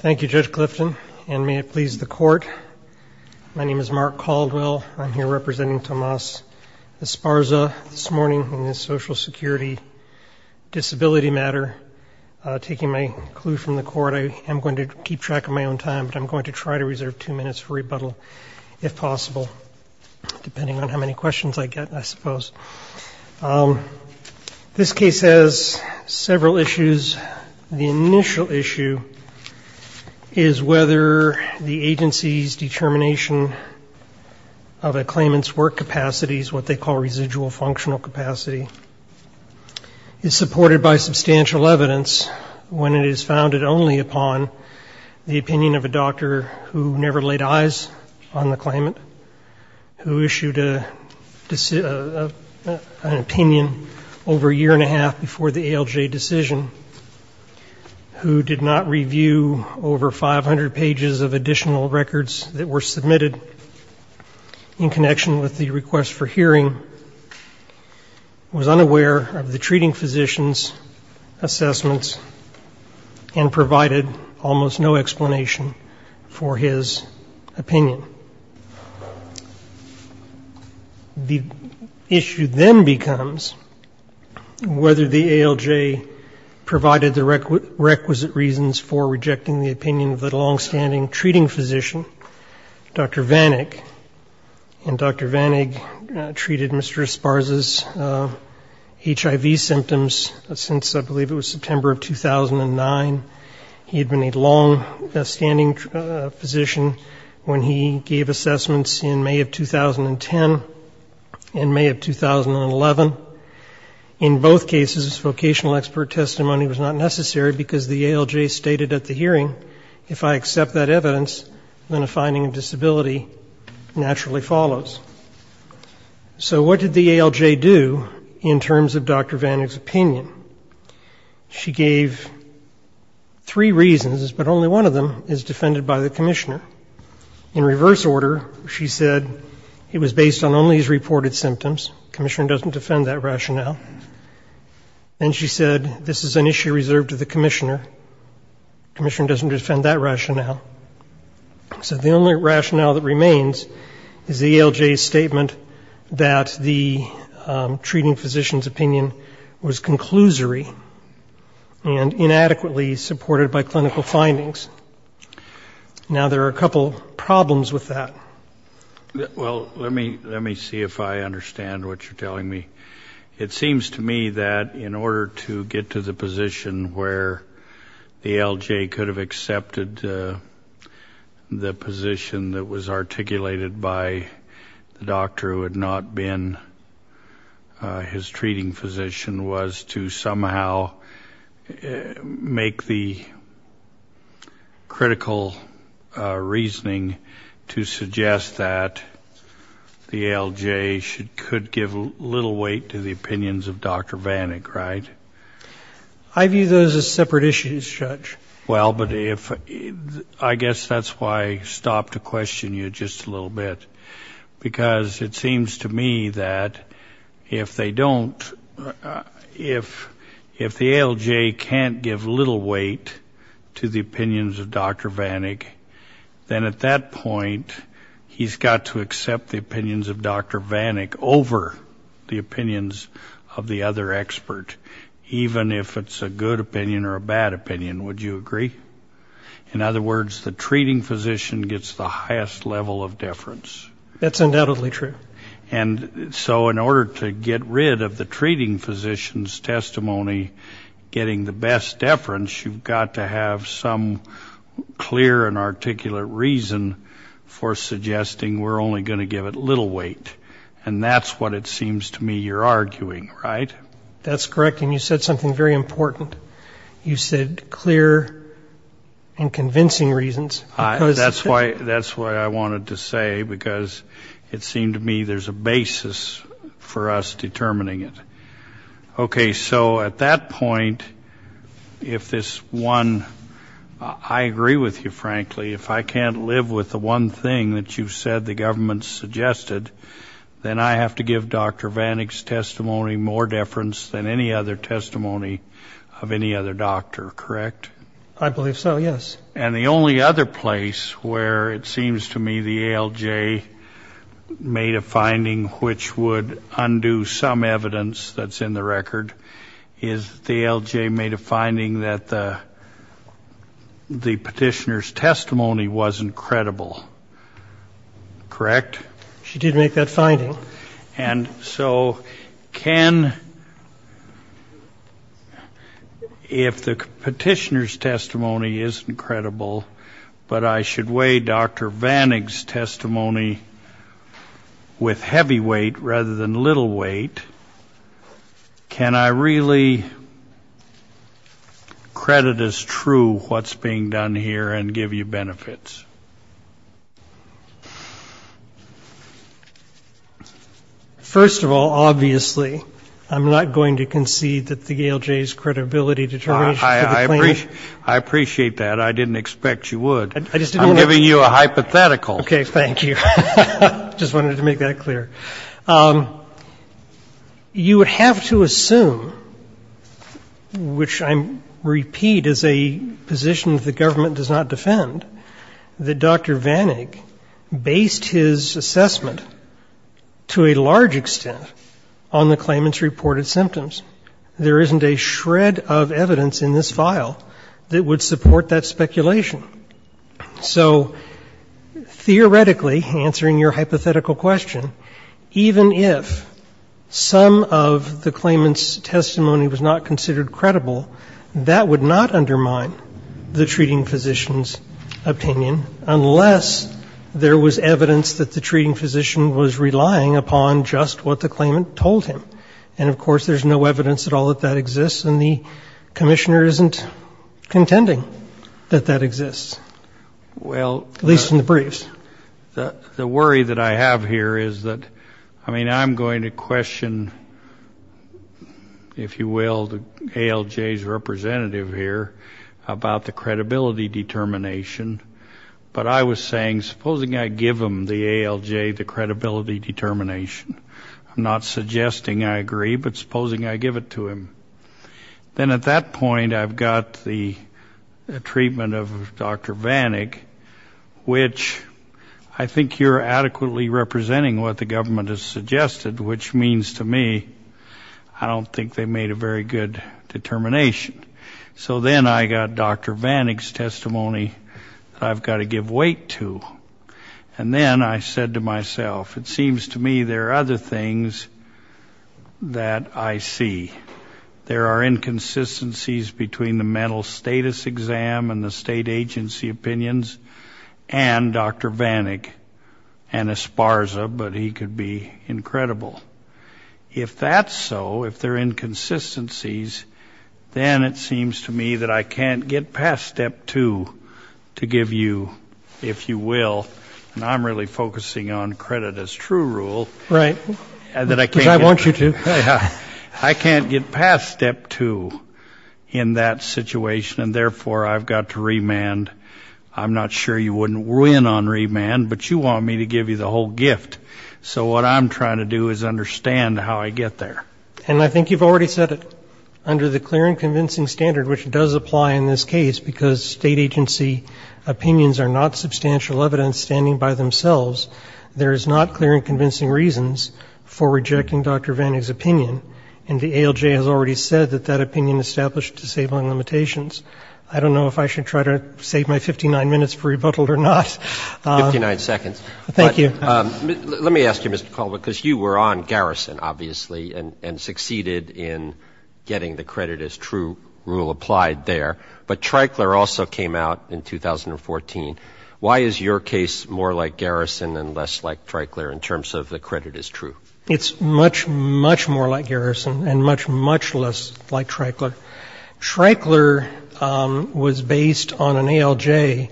Thank you, Judge Clifton, and may it please the court. My name is Mark Caldwell. I'm here representing Tomas Esparza this morning on this Social Security disability matter. Taking my clue from the court, I am going to keep track of my own time, but I'm going to try to reserve two minutes for rebuttal, if possible, depending on how many questions I get, I suppose. This case has several issues. The initial issue is whether the agency's determination of a claimant's work capacity, what they call residual functional capacity, is supported by substantial evidence when it is founded only upon the opinion of a doctor who never laid eyes on the claimant, who issued an opinion over a year-and-a-half before the ALJ decision, who did not review over 500 pages of additional records that were submitted in connection with the request for hearing, was unaware of the treating physician's assessments, and his opinion. The issue then becomes whether the ALJ provided the requisite reasons for rejecting the opinion of the longstanding treating physician, Dr. Vanig, and Dr. Vanig treated Mr. Esparza's when he gave assessments in May of 2010 and May of 2011. In both cases, vocational expert testimony was not necessary because the ALJ stated at the hearing, if I accept that evidence, then a finding of disability naturally follows. So what did the ALJ do in terms of Dr. Vanig's opinion? She gave three reasons, but only one of them is defended by the commissioner. In reverse order, she said it was based on only his reported symptoms. The commissioner doesn't defend that rationale. And she said this is an issue reserved to the commissioner. The commissioner doesn't defend that rationale. So the only rationale that remains is the ALJ's statement that the treating physician's opinion was conclusory and inadequately supported by clinical findings. Now, there are a couple problems with that. Well, let me see if I understand what you're telling me. It seems to me that in order to get to the position where the ALJ could have accepted the position that was articulated by the doctor who had not been his treating physician was to somehow make the ALJ's opinion critical reasoning to suggest that the ALJ could give little weight to the opinions of Dr. Vanig, right? I view those as separate issues, Judge. Well, but I guess that's why I stopped to question you just a little bit. Because it seems to me that if they don't, if the ALJ can't give little weight to the opinions of Dr. Vanig, then at that point, he's got to accept the opinions of Dr. Vanig over the opinions of the other expert, even if it's a good opinion or a bad opinion. Would you agree? In other words, the treating physician gets the highest level of deference. That's undoubtedly true. And so in order to get rid of the treating physician's testimony getting the best deference, you've got to have some clear and articulate reason for suggesting we're only going to give it little weight. And that's what it seems to me you're arguing, right? That's correct. And you said something very important. You said clear and convincing reasons. That's why I wanted to say, because it seemed to me there's a basis for us determining it. Okay. So at that point, if this one, I agree with you, frankly, if I can't live with the one thing that you've said the government suggested, then I have to give Dr. Vanig's testimony more deference than any other testimony of any other doctor, correct? I believe so, yes. And the only other place where it seems to me the ALJ made a finding which would undo some evidence that's in the record is the ALJ made a finding that the petitioner's testimony wasn't credible, correct? She did make that finding. And so can, if the petitioner's testimony isn't credible, but I should weigh Dr. Vanig's testimony with heavy weight rather than little weight, can I really credit as true what's being done here and give you benefits? First of all, obviously, I'm not going to concede that the ALJ's credibility determination for the claimant... I appreciate that. I didn't expect you would. I just didn't want to... I'm giving you a hypothetical. Okay. Thank you. I just wanted to make that clear. You would have to assume, which I repeat is a position that the government does not defend, that Dr. Vanig based his assessment to a large extent on the claimant's reported symptoms. There isn't a shred of evidence in this file that would support that speculation. So theoretically, answering your hypothetical question, even if some of the claimant's testimony was not considered credible, that would not undermine the treating physician's opinion unless there was evidence that the treating physician was relying upon just what the claimant told him. And, of course, there's no evidence at all that that exists, and the commissioner isn't contending that that exists, at least in the briefs. Well, the worry that I have here is that, I mean, I'm going to question, if you will, the ALJ's representative here about the credibility determination, but I was saying, supposing I give him the ALJ the credibility determination, I'm not suggesting I agree, but supposing I give it to him, then at that point I've got the treatment of Dr. Vanig, which I think you're adequately representing what the government has suggested, which means to me I don't think they made a very good determination. So then I got Dr. Vanig's testimony that I've got to give weight to, and then I said to him, I see. There are inconsistencies between the mental status exam and the state agency opinions and Dr. Vanig and Esparza, but he could be incredible. If that's so, if there are inconsistencies, then it seems to me that I can't get past step two to give you, if you will, and I'm really focusing on credit as true rule. Right. Because I want you to. I can't get past step two in that situation, and therefore I've got to remand. I'm not sure you wouldn't win on remand, but you want me to give you the whole gift. So what I'm trying to do is understand how I get there. And I think you've already said it. Under the clear and convincing standard, which does apply in this case, because state agency opinions are not substantial evidence standing by themselves, there is not clear and convincing reasons for rejecting Dr. Vanig's opinion, and the ALJ has already said that that opinion established disabling limitations. I don't know if I should try to save my 59 minutes for rebuttal or not. Fifty-nine seconds. Thank you. But let me ask you, Mr. Colvin, because you were on Garrison, obviously, and succeeded in getting the credit as true rule applied there, but Tricler also came out in 2014. Why is your case more like Garrison and less like Tricler in terms of the credit is true? It's much, much more like Garrison and much, much less like Tricler. Tricler was based on an ALJ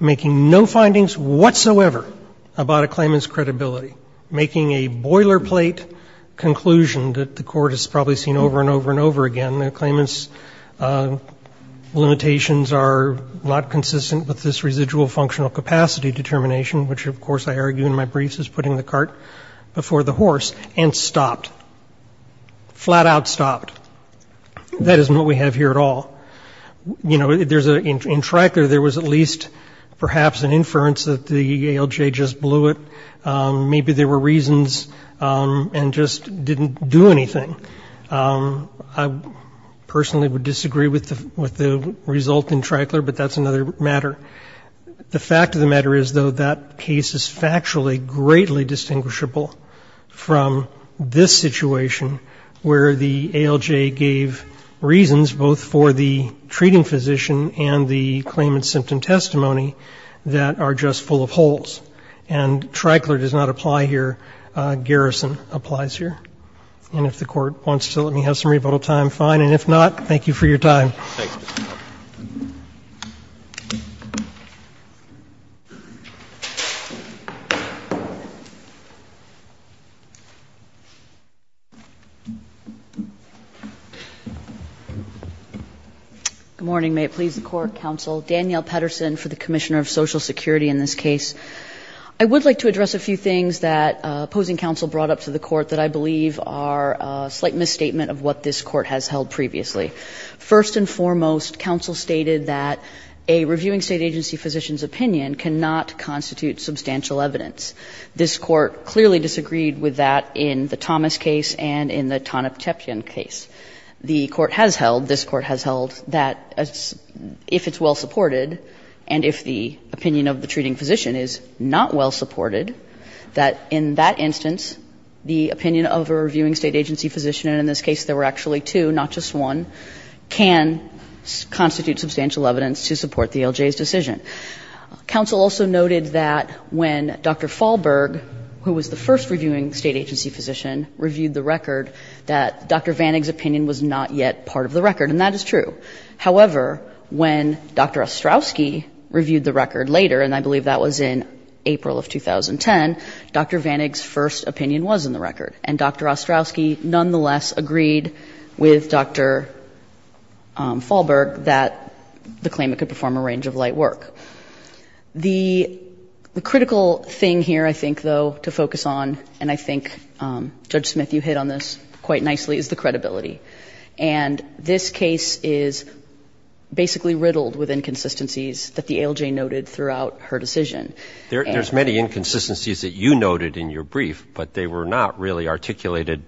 making no findings whatsoever about a claimant's credibility, making a boiler plate conclusion that the Court has probably seen over and over and over again. The limitations are not consistent with this residual functional capacity determination, which of course I argue in my briefs is putting the cart before the horse, and stopped. Flat out stopped. That isn't what we have here at all. You know, in Tricler there was at least perhaps an inference that the ALJ just blew it. Maybe there were reasons and just didn't do anything. I personally would disagree with the result in Tricler, but that's another matter. The fact of the matter is, though, that case is factually greatly distinguishable from this situation where the ALJ gave reasons both for the treating physician and the claimant's symptom testimony that are just full of holes. And Tricler does not apply here. Garrison applies here. And if the Court wants to let me have some rebuttal time, fine. And if not, thank you for your time. Good morning. May it please the Court, Counsel. Danielle Pettersen for the Commissioner of Social Security in this case. I would like to address a few things that opposing counsel brought up to the Court that I believe are a slight misstatement of what this Court has held previously. First and foremost, counsel stated that a reviewing state agency physician's opinion cannot constitute substantial evidence. This Court clearly disagreed with that in the Thomas case and in the Tanev-Chepin case. The Court has held, this Court has held that the opinion of the treating physician is not well supported, that in that instance the opinion of a reviewing state agency physician, and in this case there were actually two, not just one, can constitute substantial evidence to support the ALJ's decision. Counsel also noted that when Dr. Falberg, who was the first reviewing state agency physician, reviewed the record, that Dr. Vanig's opinion was not yet part of the record, and that is true. However, when Dr. Ostrowski reviewed the record later, and I believe that was in April of 2010, Dr. Vanig's first opinion was in the record, and Dr. Ostrowski nonetheless agreed with Dr. Falberg that the claimant could perform a range of light work. The critical thing here, I think, though, to focus on, and I think, Judge Smith, you hit on this quite nicely, is the credibility. And this case is basically riddled with inconsistencies that the ALJ noted throughout her decision. And there's many inconsistencies that you noted in your brief, but they were not really articulated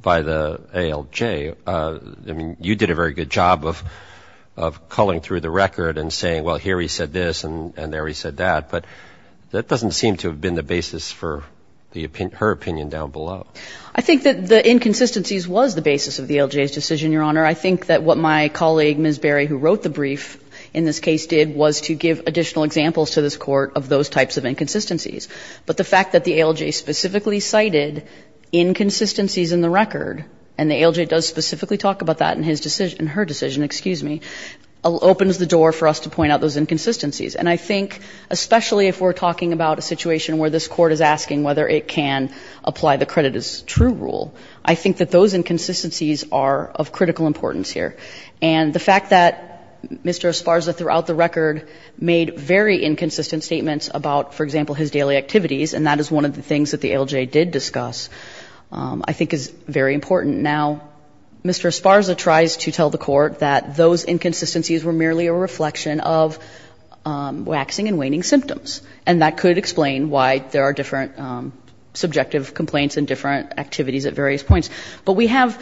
by the ALJ. I mean, you did a very good job of culling through the record and saying, well, here he said this and there he said that, but that doesn't seem to have been the basis for her opinion down below. I think that the inconsistencies was the basis of the ALJ's decision, Your Honor. I think that what my colleague, Ms. Berry, who wrote the brief in this case did was to give additional examples to this Court of those types of inconsistencies. But the fact that the ALJ specifically cited inconsistencies in the record, and the consideration where this Court is asking whether it can apply the credit as true rule, I think that those inconsistencies are of critical importance here. And the fact that Mr. Esparza throughout the record made very inconsistent statements about, for example, his daily activities, and that is one of the things that the ALJ did discuss, I think is very important. Now, Mr. Esparza tries to tell the Court that those inconsistencies were merely a reflection of waxing and waning symptoms, and that could explain why there are different subjective complaints and different activities at various points. But we have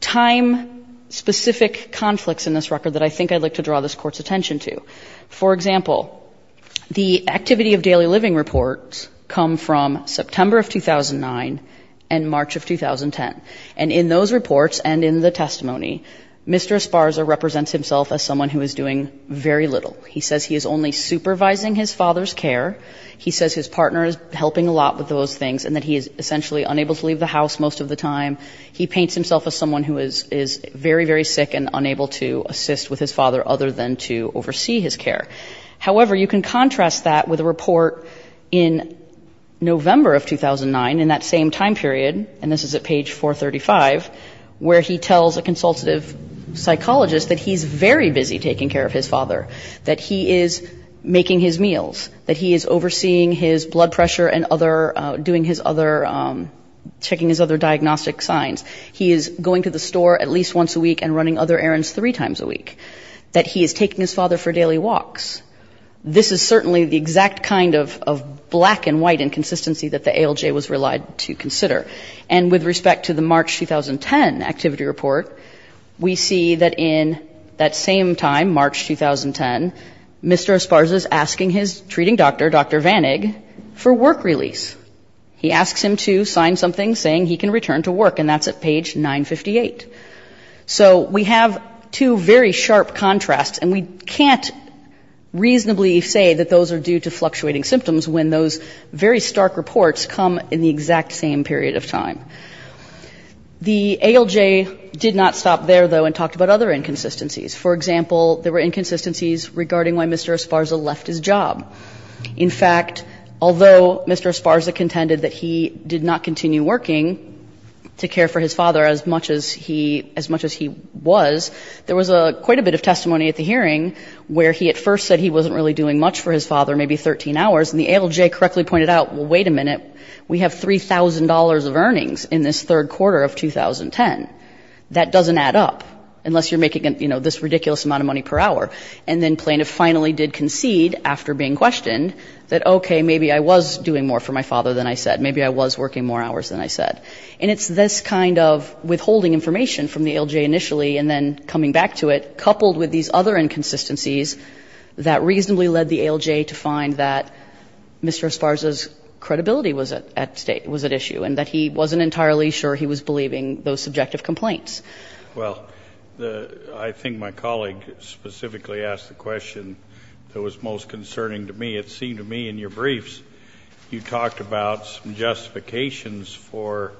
time-specific conflicts in this record that I think I'd like to draw this Court's attention to. For example, the activity of daily living reports come from September of 2009 and March of 2010. And in those reports and in the testimony, Mr. Esparza represents himself as someone who is doing very little. He says he is only supervising his father's care. He says his partner is helping a lot with those things and that he is essentially unable to leave the house most of the time. He paints himself as someone who is very, very sick and unable to assist with his father other than to oversee his care. However, you can contrast that with a report in November of 2009, in that same time period, and this is at page 435, where he tells a consultative psychologist that he's very busy taking care of his father, that he is making his meals, that he is overseeing his blood pressure and other, doing his other, checking his other diagnostic signs. He is going to the store at least once a week and running other errands three times a week, that he is taking his father for daily walks. This is certainly the exact kind of black and white inconsistency that the ALJ was relied to consider. And with respect to the March 2010 activity report, we see that in that same time, March 2010, Mr. Esparza is asking his treating doctor, Dr. Vanig, for work release. He asks him to sign something saying he can return to work, and that's at page 958. So we have two very sharp contrasts, and we can't reasonably say that those are due to fluctuating symptoms when those very stark reports come in the exact same period of time. The ALJ did not stop there, though, and talked about other inconsistencies. For example, there were inconsistencies regarding why Mr. Esparza left his job. In fact, although Mr. Esparza contended that he did not continue working to care for his father as much as he was, there was quite a bit of testimony at the hearing where he at first said he wasn't really doing much for his father, maybe 13 hours, and the ALJ correctly pointed out, well, wait a minute, we have $3,000 of earnings in this third quarter of 2010. That doesn't add up, unless you're making, you know, this ridiculous amount of money per hour. And then plaintiff finally did concede after being questioned that, okay, maybe I was doing more for my father than I said. And it's this kind of withholding information from the ALJ initially and then coming back to it, coupled with these other inconsistencies, that reasonably led the ALJ to find that Mr. Esparza's credibility was at issue and that he wasn't entirely sure he was believing those subjective complaints. Well, I think my colleague specifically asked the question that was most concerning to me. It seemed to me in your briefs you talked about some justifications for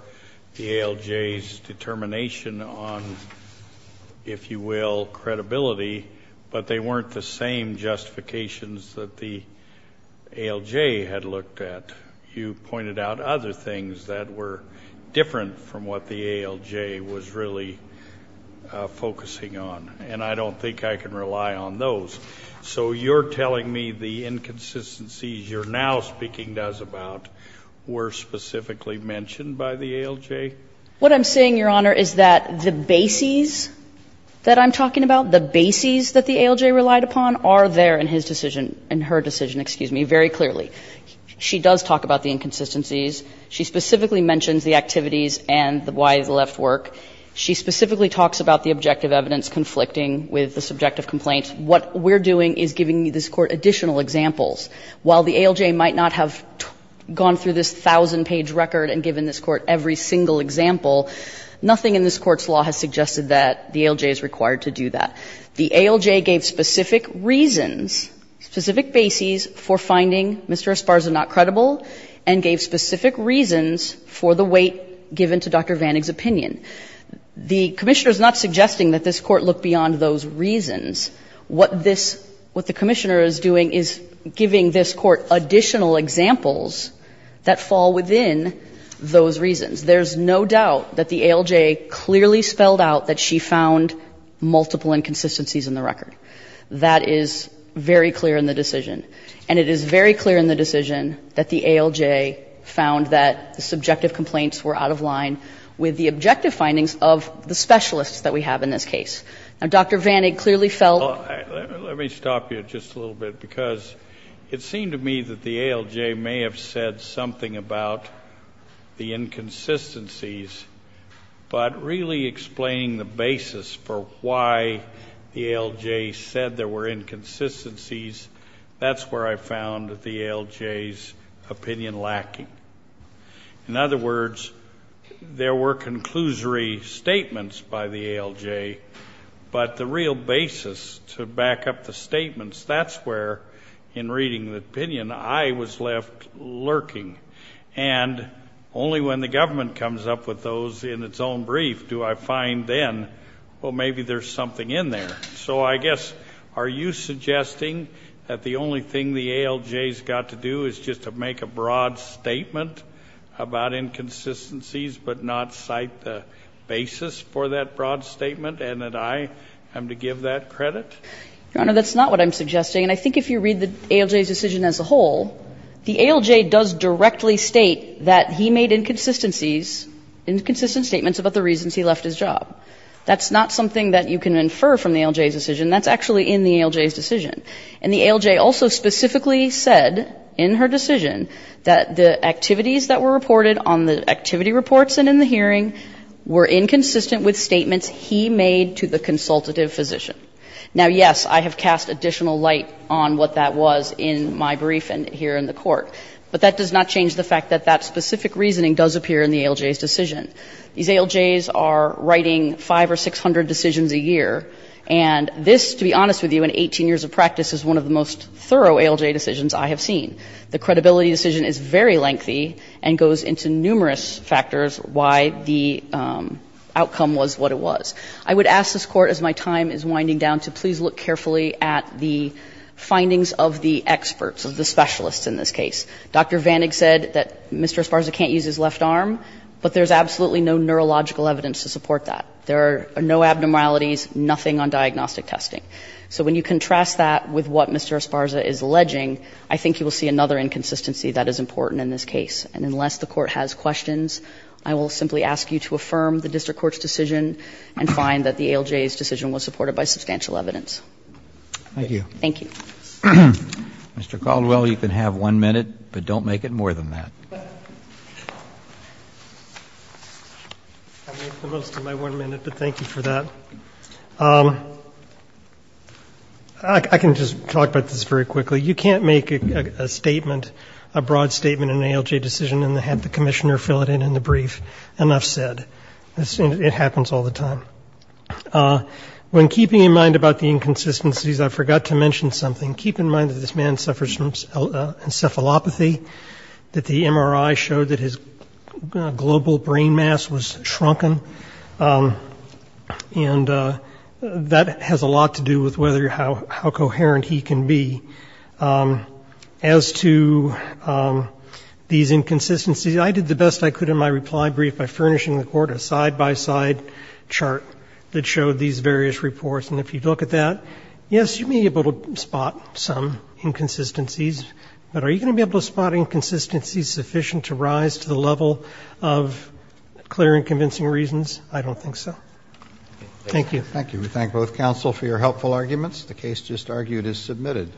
the ALJ's determination on, if you will, credibility, but they weren't the same justifications that the ALJ had looked at. You pointed out other things that were different from what the ALJ was really focusing on, and I don't think I can rely on those. So you're telling me the inconsistencies you're now speaking to us about were specifically mentioned by the ALJ? What I'm saying, Your Honor, is that the bases that I'm talking about, the bases that the ALJ relied upon, are there in his decision, in her decision, excuse me, very clearly. She does talk about the inconsistencies. She specifically mentions the activities and why he left work. She specifically talks about the objective evidence conflicting with the subjective complaint. What we're doing is giving this Court additional examples. While the ALJ might not have gone through this 1,000-page record and given this Court every single example, nothing in this Court's law has suggested that the ALJ is required to do that. The ALJ gave specific reasons, specific bases for finding Mr. Esparza not credible, and gave specific reasons for the weight given to Dr. Vanig's opinion. The Commissioner is not suggesting that this Court look beyond those reasons. What this, what the Commissioner is doing is giving this Court additional examples that fall within those reasons. There's no doubt that the ALJ clearly spelled out that she found multiple inconsistencies in the record. That is very clear in the decision. And it is very clear in the decision that the ALJ found that the subjective complaints were out of line with the objective findings of the specialists that we have in this case. Now, Dr. Vanig clearly felt Let me stop you just a little bit, because it seemed to me that the ALJ may have said something about the inconsistencies, but really explaining the basis for why the ALJ said there were inconsistencies, that's where I found the ALJ's opinion lacking. In other words, there were conclusory statements by the ALJ, but the real basis to back up the statements, that's where, in reading the opinion, I was left lurking. And only when the government comes up with those in its own brief do I find then, well, maybe there's something in there. So I guess, are you suggesting that the only thing the ALJ's got to do is just to make a broad statement about inconsistencies, but not cite the basis for that broad statement, and that I am to give that credit? Your Honor, that's not what I'm suggesting. And I think if you read the ALJ's decision as a whole, the ALJ does directly state that he made inconsistencies, inconsistent statements about the reasons he left his job. That's not something that you can infer from the ALJ's decision. That's actually in the ALJ's decision. And the ALJ also specifically said in her decision that the activities that were reported on the activity reports and in the hearing were inconsistent with statements he made to the consultative physician. Now, yes, I have cast additional light on what that was in my brief and here in the Court, but that does not change the fact that that specific reasoning does appear in the ALJ's decision. These ALJs are writing 500 or 600 decisions a year, and this, to be honest with you, in 18 years of practice is one of the most thorough ALJ decisions I have seen. The credibility decision is very lengthy and goes into numerous factors why the outcome was what it was. I would ask this Court, as my time is winding down, to please look carefully at the findings of the experts, of the specialists in this case. Dr. Vanig said that Mr. Esparza can't use his left arm, but there's absolutely no neurological evidence to support that. There are no abnormalities, nothing on diagnostic testing. So when you contrast that with what Mr. Esparza is alleging, I think you will see another inconsistency that is important in this case. And unless the Court has questions, I will simply ask you to affirm the district court's decision and find that the ALJ's decision was supported by substantial evidence. Thank you. Thank you. Mr. Caldwell, you can have one minute, but don't make it more than that. I made the most of my one minute, but thank you for that. I can just talk about this very quickly. You can't make a statement, a broad statement in an ALJ decision and have the commissioner fill it in in the brief. Enough said. It happens all the time. When keeping in mind about the inconsistencies, I forgot to mention something. Keep in mind that this man suffers from encephalopathy, that the MRI showed that his global brain mass was shrunken. And that has a lot to do with how coherent he can be. As to these inconsistencies, I did the best I could in my reply brief by furnishing the Court a side-by-side chart that showed these various reports. And if you look at that, yes, you may be able to spot some inconsistencies, but are you going to be able to spot inconsistencies sufficient to rise to the level of clear and convincing reasons? I don't think so. Thank you. Thank you. We thank both counsel for your helpful arguments. The case just argued is submitted.